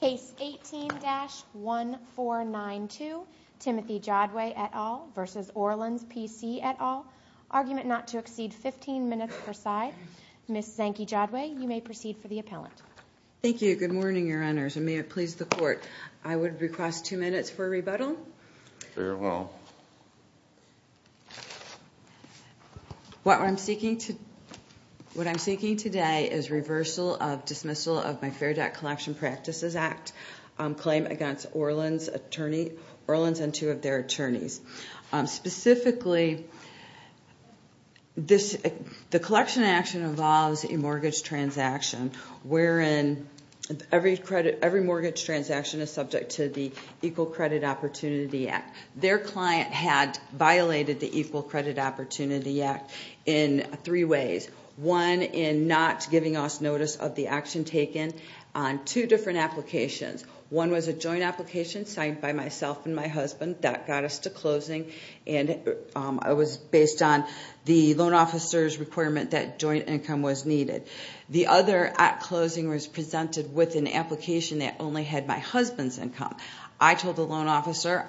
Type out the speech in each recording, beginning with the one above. Case 18-1492, Timothy Jodway et al. v. Orlans PC et al., argument not to exceed 15 minutes per side, Ms. Zanke Jodway, you may proceed for the appellant. Thank you, good morning your honors, and may it please the court, I would request two minutes for a rebuttal. Very well. What I'm seeking today is reversal of dismissal of my Fair Debt Collection Practices Act claim against Orlans and two of their attorneys. Specifically, the collection action involves a mortgage transaction wherein every mortgage transaction is subject to the Equal Credit Opportunity Act. Their client had violated the Equal Credit Opportunity Act in three ways. One, in not giving us notice of the action taken on two different applications. One was a joint application signed by myself and my husband that got us to closing, and it was based on the loan officer's requirement that joint income was needed. The other at closing was presented with an application that only had my husband's income. I told the loan officer,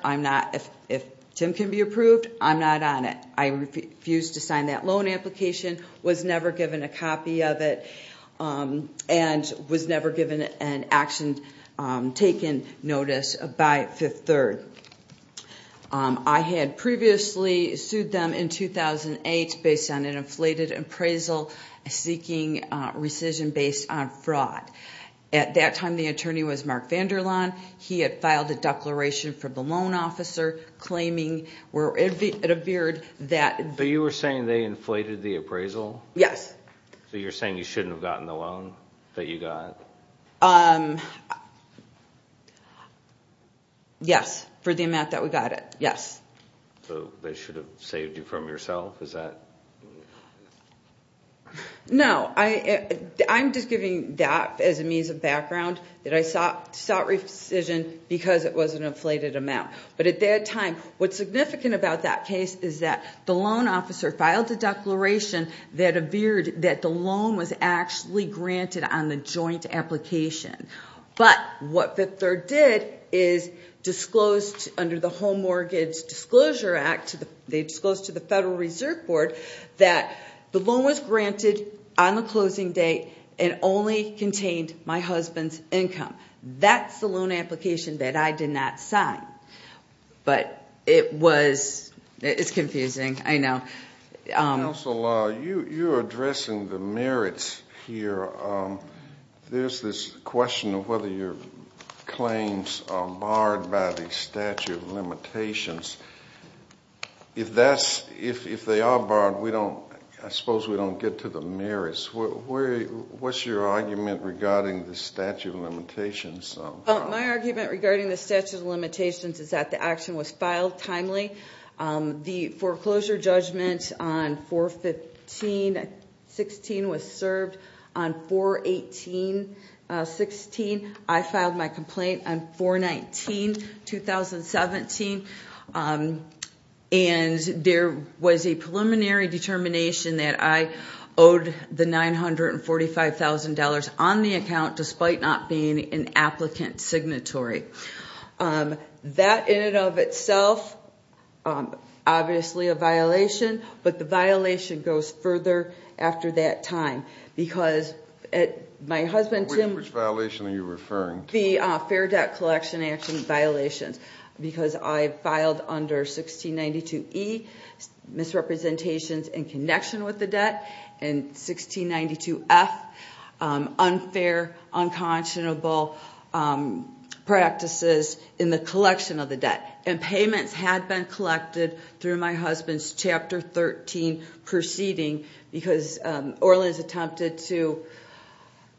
if Tim can be approved, I'm not on it. I refused to sign that loan application, was never given a copy of it, and was never given an action taken notice by Fifth Third. I had previously sued them in 2008 based on an inflated appraisal seeking rescission based on fraud. At that time, the attorney was Mark Vanderlaan. He had filed a declaration for the loan officer claiming where it appeared that... So you were saying they inflated the appraisal? Yes. So you're saying you shouldn't have gotten the loan that you got? Yes, for the amount that we got it. Yes. So they should have saved you from yourself? Is that... No, I'm just giving that as a means of background that I sought rescission because it was an inflated amount. But at that time, what's significant about that case is that the loan officer filed a declaration that appeared that the loan was actually granted on the joint application. But what Fifth Third did is disclosed under the Home Mortgage Disclosure Act, they disclosed to the Federal Reserve Board that the loan was granted on the closing date and only contained my husband's income. That's the loan application that I did not sign. But it was... It's confusing, I know. Counsel, you're addressing the merits here. There's this question of whether your claims are barred by the statute of limitations. If they are barred, I suppose we don't get to the merits. What's your argument regarding the statute of limitations? My argument regarding the statute of limitations is that the action was filed timely. The foreclosure judgment on 4-15-16 was served on 4-18-16. I filed my complaint on 4-19-2017. And there was a preliminary determination that I owed the $945,000 on the account despite not being an applicant signatory. That in and of itself, obviously a violation. But the violation goes further after that time. Because my husband... Which violation are you referring to? The Fair Debt Collection Act violations. Because I filed under 1692E, misrepresentations in connection with the debt. And 1692F, unfair, unconscionable practices in the collection of the debt. And payments had been collected through my husband's Chapter 13 proceeding. Because Orleans attempted to...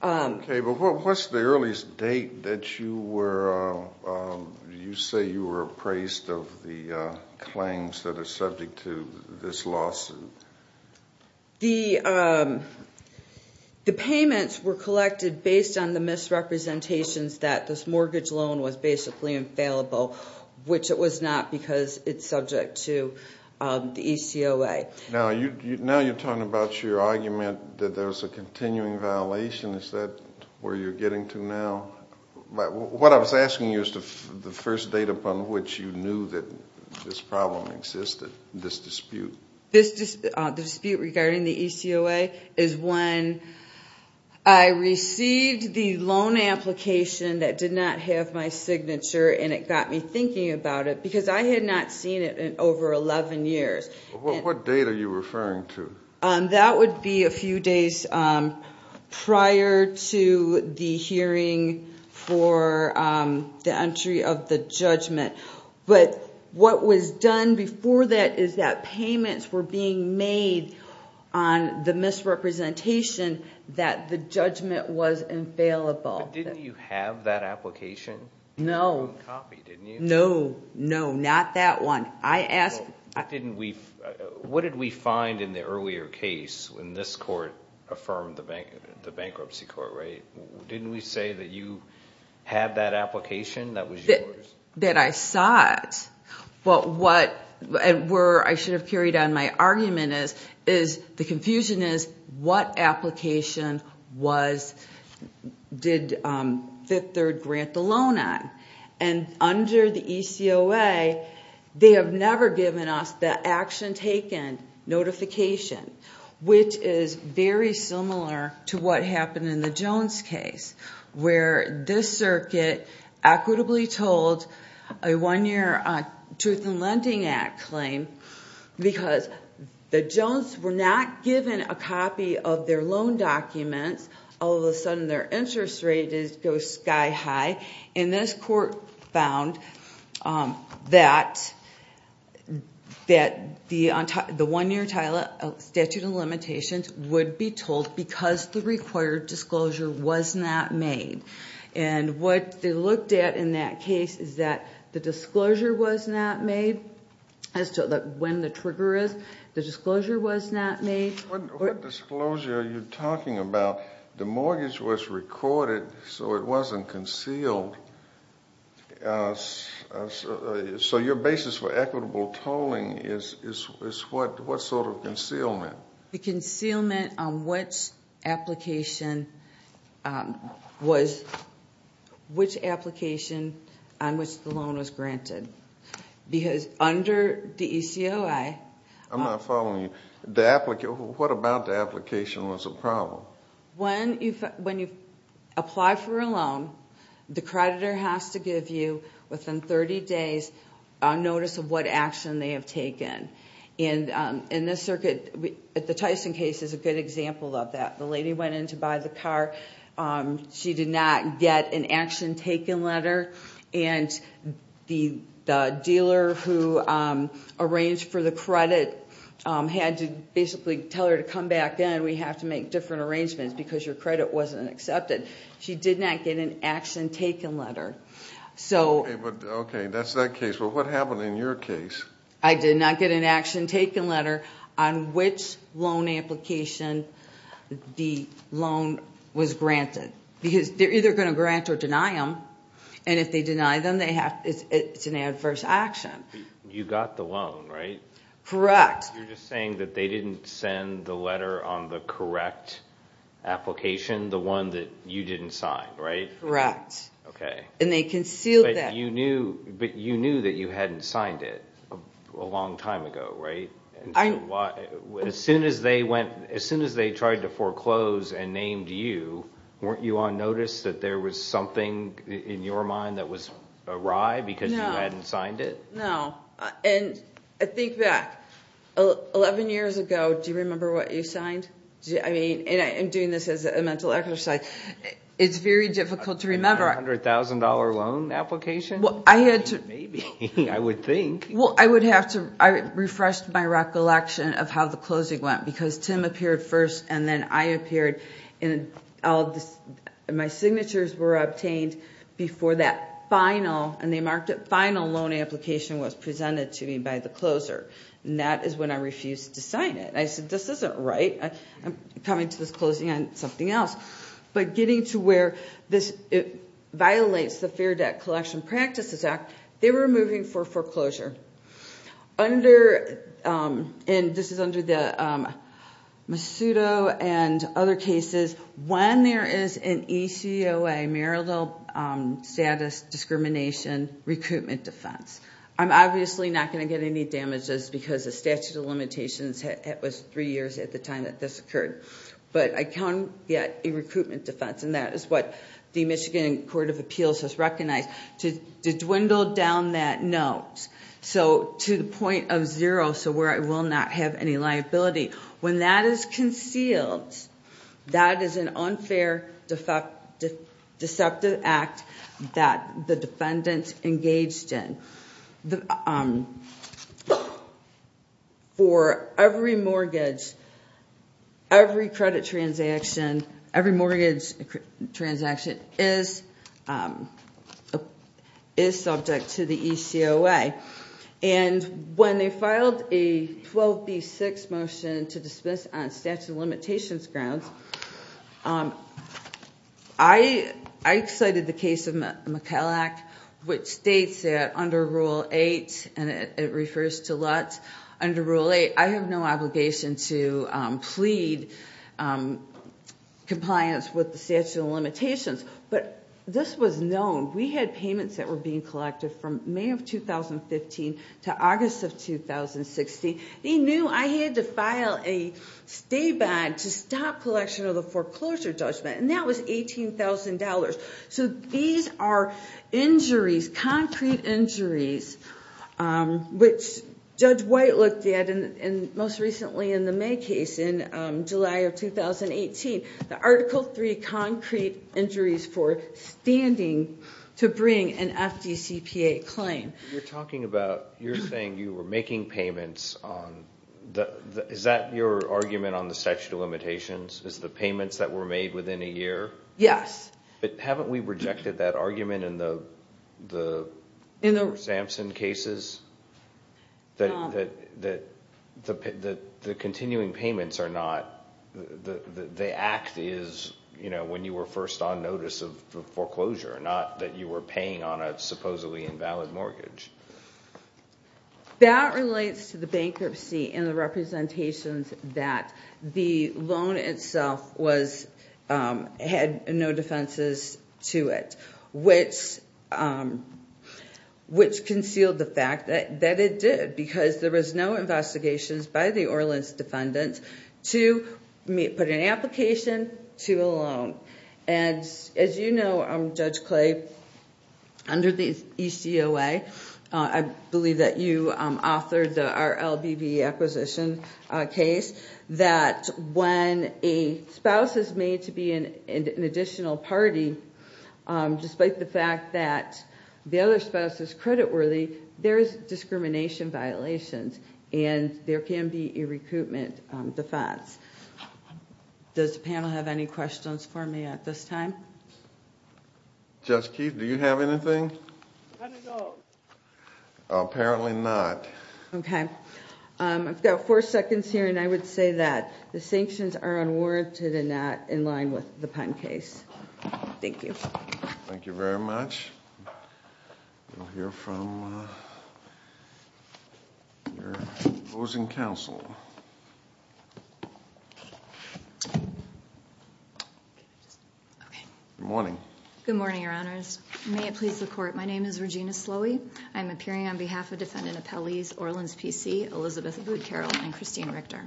Okay, but what's the earliest date that you say you were appraised of the claims that are subject to this lawsuit? The payments were collected based on the misrepresentations that this mortgage loan was basically infallible. Which it was not because it's subject to the ECOA. Now you're talking about your argument that there's a continuing violation. Is that where you're getting to now? What I was asking you is the first date upon which you knew that this problem existed, this dispute. The dispute regarding the ECOA is when I received the loan application that did not have my signature. And it got me thinking about it. Because I had not seen it in over 11 years. What date are you referring to? That would be a few days prior to the hearing for the entry of the judgment. But what was done before that is that payments were being made on the misrepresentation that the judgment was infallible. But didn't you have that application? No. You had your own copy, didn't you? No, no, not that one. What did we find in the earlier case when this court affirmed the bankruptcy court rate? Didn't we say that you had that application that was yours? That I saw it. But where I should have carried on my argument is the confusion is what application did Fifth Third grant the loan on? And under the ECOA, they have never given us the action taken notification, which is very similar to what happened in the Jones case, where this circuit equitably told a one-year Truth in Lending Act claim because the Jones were not given a copy of their loan documents. All of a sudden, their interest rate goes sky high. And this court found that the one-year statute of limitations would be told because the required disclosure was not made. And what they looked at in that case is that the disclosure was not made as to when the trigger is. The disclosure was not made. What disclosure are you talking about? The mortgage was recorded, so it wasn't concealed. So your basis for equitable tolling is what sort of concealment? The concealment on which application on which the loan was granted because under the ECOA. I'm not following you. What about the application was a problem? When you apply for a loan, the creditor has to give you within 30 days a notice of what action they have taken. And in this circuit, the Tyson case is a good example of that. The lady went in to buy the car. She did not get an action taken letter. And the dealer who arranged for the credit had to basically tell her to come back in. We have to make different arrangements because your credit wasn't accepted. She did not get an action taken letter. Okay, that's that case. But what happened in your case? I did not get an action taken letter on which loan application the loan was granted. Because they're either going to grant or deny them. And if they deny them, it's an adverse action. You got the loan, right? Correct. You're just saying that they didn't send the letter on the correct application, the one that you didn't sign, right? Correct. Okay. And they concealed that. But you knew that you hadn't signed it a long time ago, right? As soon as they tried to foreclose and named you, weren't you on notice that there was something in your mind that was awry because you hadn't signed it? No. And I think back. Eleven years ago, do you remember what you signed? And I'm doing this as a mental exercise. It's very difficult to remember. A $100,000 loan application? Maybe, I would think. Well, I would have to refresh my recollection of how the closing went. Because Tim appeared first, and then I appeared. And my signatures were obtained before that final, and they marked it, final loan application was presented to me by the closer. And that is when I refused to sign it. I said, this isn't right. I'm coming to this closing on something else. But getting to where this violates the Fair Debt Collection Practices Act, they were moving for foreclosure. Under, and this is under the Masudo and other cases, when there is an ECOA, Maryland Status Discrimination Recruitment Defense. I'm obviously not going to get any damages because the statute of limitations, it was three years at the time that this occurred. But I can get a recruitment defense, and that is what the Michigan Court of Appeals has recognized. To dwindle down that note. So, to the point of zero, so where I will not have any liability. When that is concealed, that is an unfair, deceptive act that the defendant engaged in. For every mortgage, every credit transaction, every mortgage transaction is subject to the ECOA. And when they filed a 12B6 motion to dismiss on statute of limitations grounds, I cited the case of McKellack, which states that under Rule 8, and it refers to Lutz, under Rule 8, I have no obligation to plead compliance with the statute of limitations. But this was known. We had payments that were being collected from May of 2015 to August of 2016. They knew I had to file a stay bond to stop collection of the foreclosure judgment. And that was $18,000. So these are injuries, concrete injuries, which Judge White looked at, and most recently in the May case in July of 2018, the Article 3 concrete injuries for standing to bring an FDCPA claim. You're talking about, you're saying you were making payments on, is that your argument on the statute of limitations, is the payments that were made within a year? Yes. But haven't we rejected that argument in the Samson cases, that the continuing payments are not, the act is when you were first on notice of foreclosure, not that you were paying on a supposedly invalid mortgage? That relates to the bankruptcy and the representations that the loan itself had no defenses to it, which concealed the fact that it did, because there was no investigations by the Orleans defendant to put an application to a loan. As you know, Judge Clay, under the ECOA, I believe that you authored the RLBV acquisition case, that when a spouse is made to be an additional party, despite the fact that the other spouse is credit worthy, there is discrimination violations, and there can be a recoupment defense. Does the panel have any questions for me at this time? Judge Keith, do you have anything? I don't know. Apparently not. Okay. I've got four seconds here, and I would say that the sanctions are unwarranted and not in line with the Penn case. Thank you. Thank you very much. We'll hear from your opposing counsel. Okay. Good morning. Good morning, Your Honors. May it please the Court, my name is Regina Slowy. I'm appearing on behalf of defendant appellees Orleans P.C., Elizabeth Wood Carroll, and Christine Richter.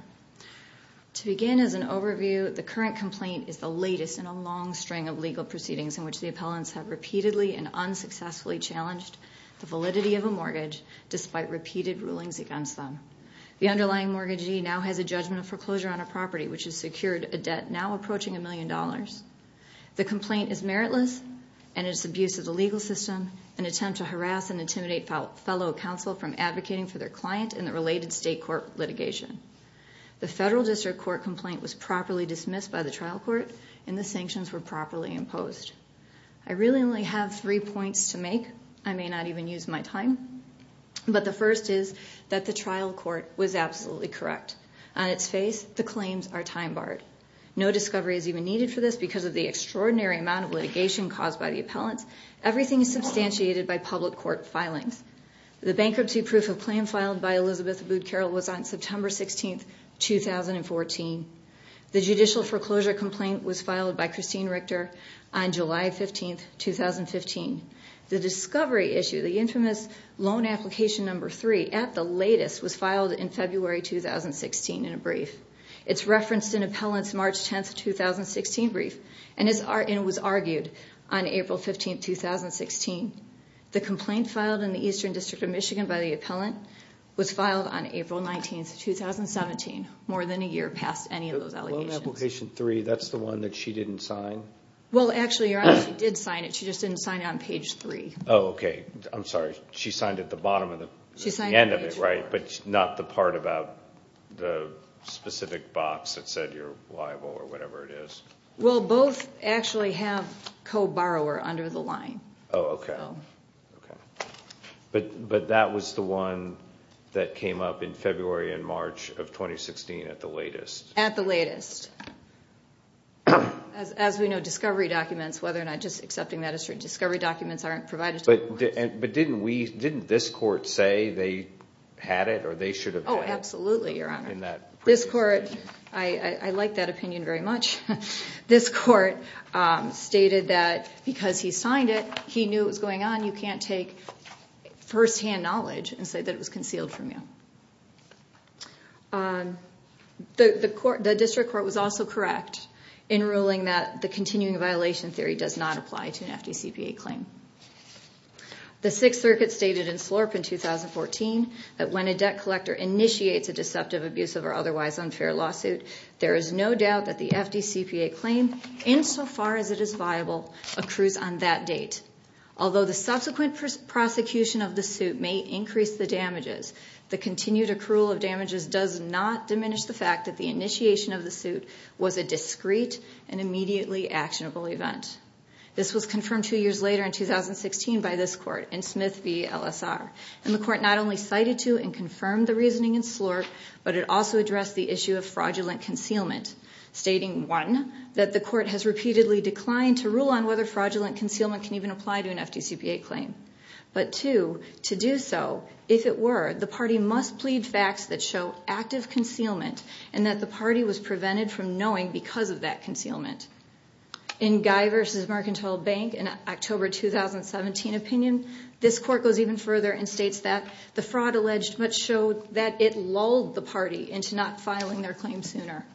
To begin as an overview, the current complaint is the latest in a long string of legal proceedings in which the appellants have repeatedly and unsuccessfully challenged the validity of a mortgage, despite repeated rulings against them. The underlying mortgagee now has a judgment of foreclosure on a property, which has secured a debt now approaching a million dollars. The complaint is meritless and is abuse of the legal system, an attempt to harass and intimidate fellow counsel from advocating for their client in the related state court litigation. The federal district court complaint was properly dismissed by the trial court, and the sanctions were properly imposed. I really only have three points to make. I may not even use my time. But the first is that the trial court was absolutely correct. On its face, the claims are time barred. No discovery is even needed for this because of the extraordinary amount of litigation caused by the appellants. Everything is substantiated by public court filings. The bankruptcy proof of claim filed by Elizabeth Wood Carroll was on September 16, 2014. The judicial foreclosure complaint was filed by Christine Richter on July 15, 2015. The discovery issue, the infamous loan application number three, at the latest, was filed in February 2016 in a brief. It's referenced in appellant's March 10, 2016 brief and was argued on April 15, 2016. The complaint filed in the Eastern District of Michigan by the appellant was filed on April 19, 2017, more than a year past any of those allegations. The loan application three, that's the one that she didn't sign. Well, actually, you're right. She did sign it. She just didn't sign it on page three. Oh, okay. I'm sorry. She signed at the bottom of the end of it, right? But not the part about the specific box that said you're liable or whatever it is? Well, both actually have co-borrower under the line. Oh, okay. Okay. At the latest. As we know, discovery documents, whether or not just accepting that as a discovery document, aren't provided to the courts. But didn't this court say they had it or they should have had it? Oh, absolutely, Your Honor. In that brief. This court, I like that opinion very much. This court stated that because he signed it, he knew what was going on. You can't take firsthand knowledge and say that it was concealed from you. The district court was also correct in ruling that the continuing violation theory does not apply to an FDCPA claim. The Sixth Circuit stated in Slorp in 2014 that when a debt collector initiates a deceptive, abusive, or otherwise unfair lawsuit, there is no doubt that the FDCPA claim, insofar as it is viable, accrues on that date. Although the subsequent prosecution of the suit may increase the damages, the continued accrual of damages does not diminish the fact that the initiation of the suit was a discreet and immediately actionable event. This was confirmed two years later in 2016 by this court in Smith v. LSR. And the court not only cited to and confirmed the reasoning in Slorp, but it also addressed the issue of fraudulent concealment, stating, one, that the court has repeatedly declined to rule on whether fraudulent concealment can even apply to an FDCPA claim. But two, to do so, if it were, the party must plead facts that show active concealment and that the party was prevented from knowing because of that concealment. In Guy v. Mercantile Bank in October 2017 opinion, this court goes even further and states that the fraud alleged much showed that it lulled the party into not filing their claim sooner.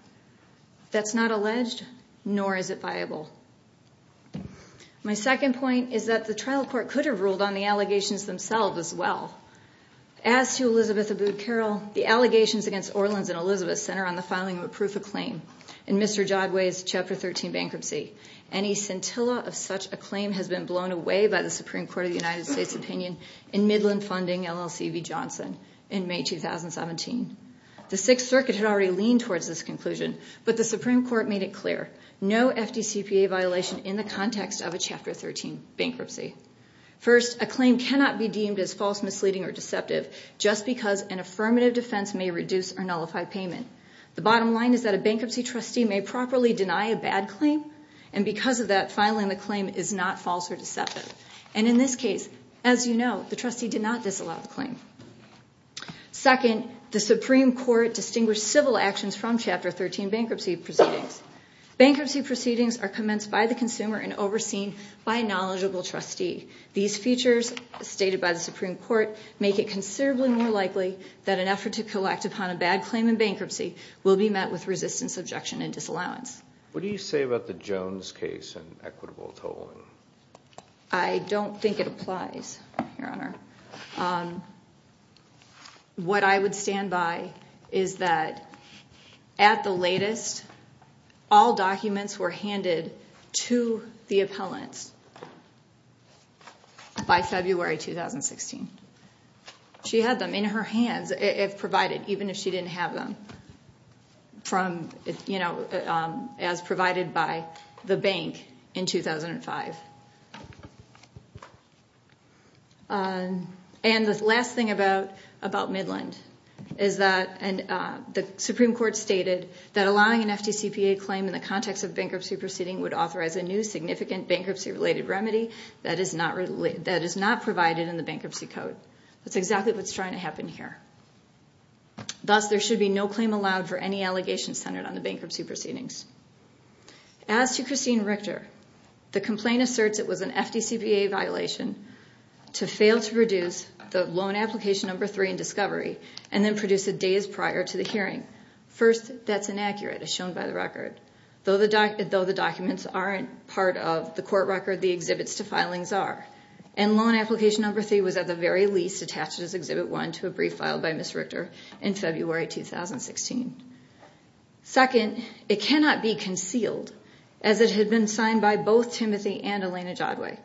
That's not alleged, nor is it viable. My second point is that the trial court could have ruled on the allegations themselves as well. As to Elizabeth Abood Carroll, the allegations against Orleans and Elizabeth center on the filing of a proof of claim in Mr. Jodway's Chapter 13 bankruptcy. Any scintilla of such a claim has been blown away by the Supreme Court of the United States opinion in Midland Funding LLC v. Johnson in May 2017. The Sixth Circuit had already leaned towards this conclusion, but the Supreme Court made it clear. No FDCPA violation in the context of a Chapter 13 bankruptcy. First, a claim cannot be deemed as false, misleading, or deceptive just because an affirmative defense may reduce or nullify payment. The bottom line is that a bankruptcy trustee may properly deny a bad claim and because of that, filing the claim is not false or deceptive. And in this case, as you know, the trustee did not disallow the claim. Second, the Supreme Court distinguished civil actions from Chapter 13 bankruptcy proceedings. Bankruptcy proceedings are commenced by the consumer and overseen by a knowledgeable trustee. These features stated by the Supreme Court make it considerably more likely that an effort to collect upon a bad claim in bankruptcy will be met with resistance, objection, and disallowance. What do you say about the Jones case and equitable tolling? What I would stand by is that at the latest, all documents were handed to the appellant by February 2016. She had them in her hands, provided even if she didn't have them, as provided by the bank in 2005. And the last thing about Midland is that the Supreme Court stated that allowing an FDCPA claim in the context of bankruptcy proceeding would authorize a new significant bankruptcy-related remedy that is not provided in the Bankruptcy Code. That's exactly what's trying to happen here. Thus, there should be no claim allowed for any allegations centered on the bankruptcy proceedings. As to Christine Richter, the complaint asserts it was an FDCPA violation to fail to produce the Loan Application No. 3 in discovery and then produce it days prior to the hearing. First, that's inaccurate, as shown by the record. Though the documents aren't part of the court record, the exhibits to filings are. And Loan Application No. 3 was at the very least attached as Exhibit 1 to a brief filed by Ms. Richter in February 2016. Second, it cannot be concealed, as it had been signed by both Timothy and Elena Jodway.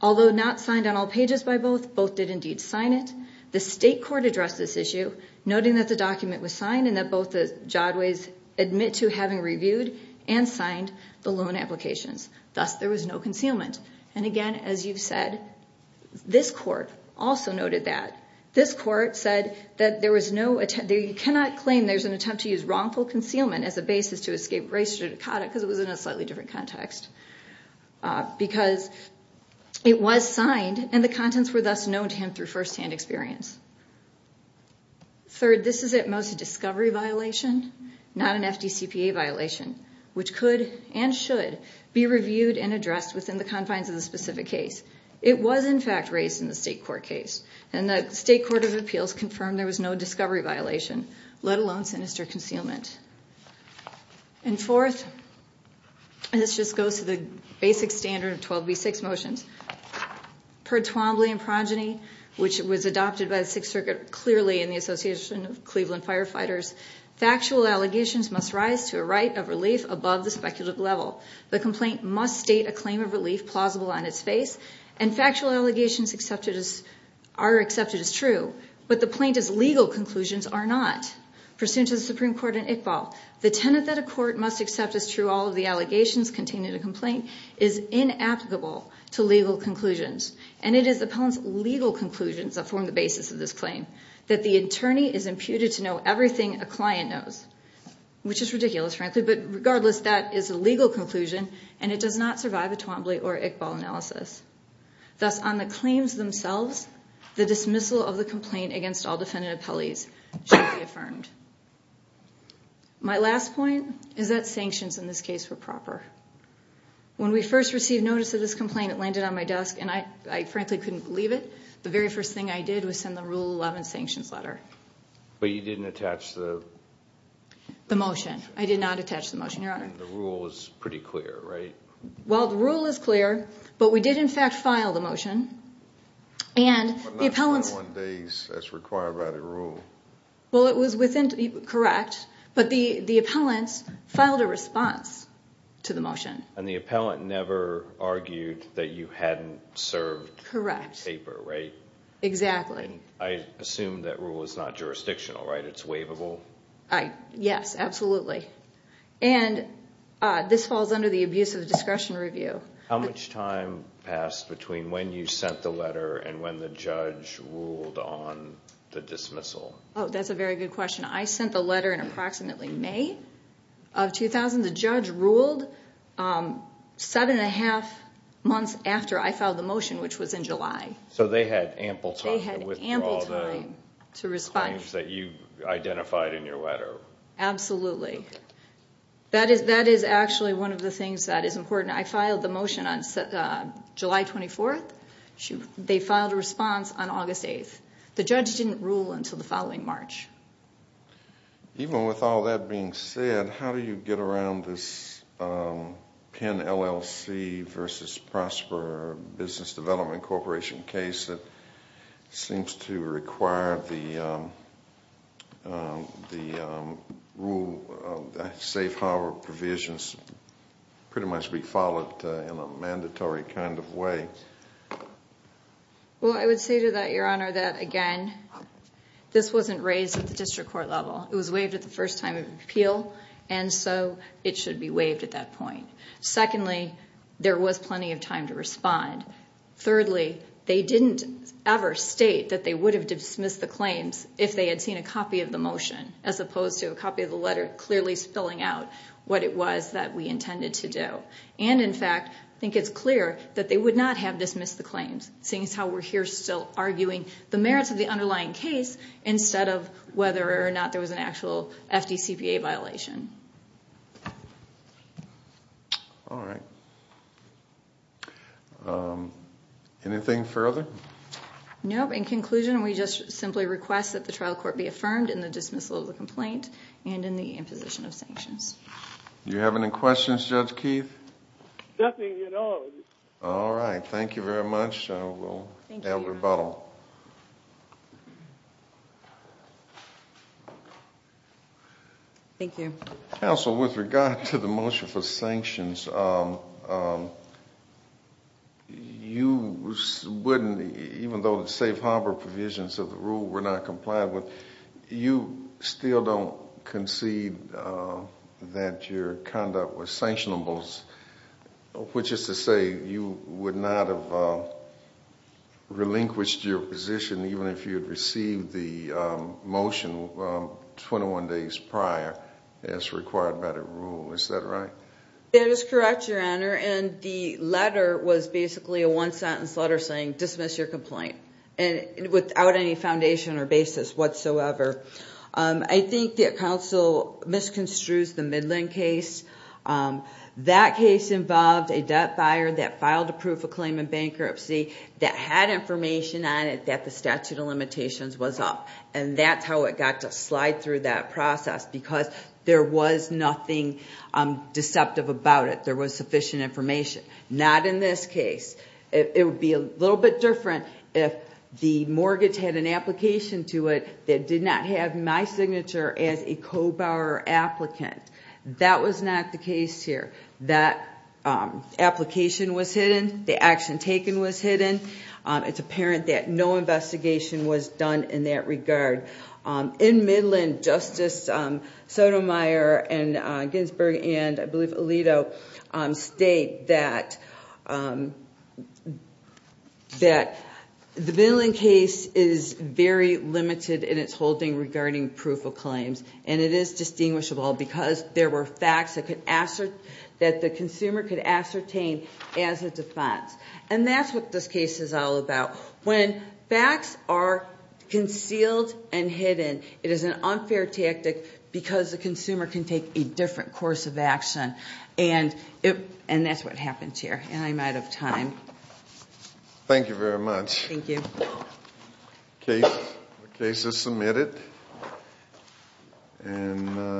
Although not signed on all pages by both, both did indeed sign it. The state court addressed this issue, noting that the document was signed and that both the Jodways admit to having reviewed and signed the loan applications. Thus, there was no concealment. And again, as you've said, this court also noted that. This court said that you cannot claim there's an attempt to use wrongful concealment as a basis to escape race judicata because it was in a slightly different context. Because it was signed and the contents were thus known to him through firsthand experience. Third, this is at most a discovery violation, not an FDCPA violation, which could and should be reviewed and addressed within the confines of the specific case. It was in fact raised in the state court case, and the state court of appeals confirmed there was no discovery violation, let alone sinister concealment. And fourth, and this just goes to the basic standard of 12b-6 motions, per Twombly and Progeny, which was adopted by the Sixth Circuit clearly in the Association of Cleveland Firefighters, factual allegations must rise to a right of relief above the speculative level. The complaint must state a claim of relief plausible on its face, and factual allegations are accepted as true, but the plaintiff's legal conclusions are not. Pursuant to the Supreme Court in Iqbal, the tenet that a court must accept as true all of the allegations contained in a complaint is inapplicable to legal conclusions. And it is the plaintiff's legal conclusions that form the basis of this claim, that the attorney is imputed to know everything a client knows, which is ridiculous, frankly, but regardless, that is a legal conclusion, and it does not survive a Twombly or Iqbal analysis. Thus, on the claims themselves, the dismissal of the complaint against all defendant appellees should be affirmed. My last point is that sanctions in this case were proper. When we first received notice of this complaint, it landed on my desk, and I frankly couldn't believe it. The very first thing I did was send the Rule 11 sanctions letter. But you didn't attach the... The motion. I did not attach the motion, Your Honor. The rule is pretty clear, right? Well, the rule is clear, but we did in fact file the motion, and the appellant... But not 21 days as required by the rule. Well, it was within, correct, but the appellant filed a response to the motion. And the appellant never argued that you hadn't served the paper, right? Correct. Exactly. I assume that rule is not jurisdictional, right? It's waivable? Yes, absolutely. And this falls under the abuse of discretion review. How much time passed between when you sent the letter and when the judge ruled on the dismissal? Oh, that's a very good question. I sent the letter in approximately May of 2000. The judge ruled 7 1⁄2 months after I filed the motion, which was in July. So they had ample time to withdraw the claims that you identified in your letter. Absolutely. That is actually one of the things that is important. I filed the motion on July 24th. They filed a response on August 8th. The judge didn't rule until the following March. Even with all that being said, how do you get around this Penn LLC versus Prosper Business Development Corporation case that seems to require the rule of safe harbor provisions pretty much be followed in a mandatory kind of way? Well, I would say to that, Your Honor, that, again, this wasn't raised at the district court level. It was waived at the first time of appeal, and so it should be waived at that point. Secondly, there was plenty of time to respond. Thirdly, they didn't ever state that they would have dismissed the claims if they had seen a copy of the motion, as opposed to a copy of the letter clearly spilling out what it was that we intended to do. And, in fact, I think it's clear that they would not have dismissed the claims, seeing as how we're here still arguing the merits of the underlying case instead of whether or not there was an actual FDCPA violation. All right. Anything further? No. In conclusion, we just simply request that the trial court be affirmed in the dismissal of the complaint and in the imposition of sanctions. Do you have any questions, Judge Keith? Nothing at all. All right. Thank you very much. I will now rebuttal. Thank you. Counsel, with regard to the motion for sanctions, you wouldn't, even though the safe harbor provisions of the rule were not complied with, you still don't concede that your conduct was sanctionable, which is to say you would not have relinquished your position even if you had received the motion 21 days prior as required by the rule. Is that right? That is correct, Your Honor. And the letter was basically a one-sentence letter saying dismiss your complaint without any foundation or basis whatsoever. I think that counsel misconstrued the Midland case. That case involved a debt buyer that filed a proof of claim in bankruptcy that had information on it that the statute of limitations was up, and that's how it got to slide through that process because there was nothing deceptive about it. There was sufficient information. Not in this case. It would be a little bit different if the mortgage had an application to it that did not have my signature as a co-buyer or applicant. That was not the case here. That application was hidden. The action taken was hidden. It's apparent that no investigation was done in that regard. In Midland, Justice Sotomayor and Ginsburg and, I believe, Alito, state that the Midland case is very limited in its holding regarding proof of claims, and it is distinguishable because there were facts that the consumer could ascertain as a defense. And that's what this case is all about. When facts are concealed and hidden, it is an unfair tactic because the consumer can take a different course of action and that's what happens here, and I'm out of time. Thank you very much. Thank you. The case is submitted.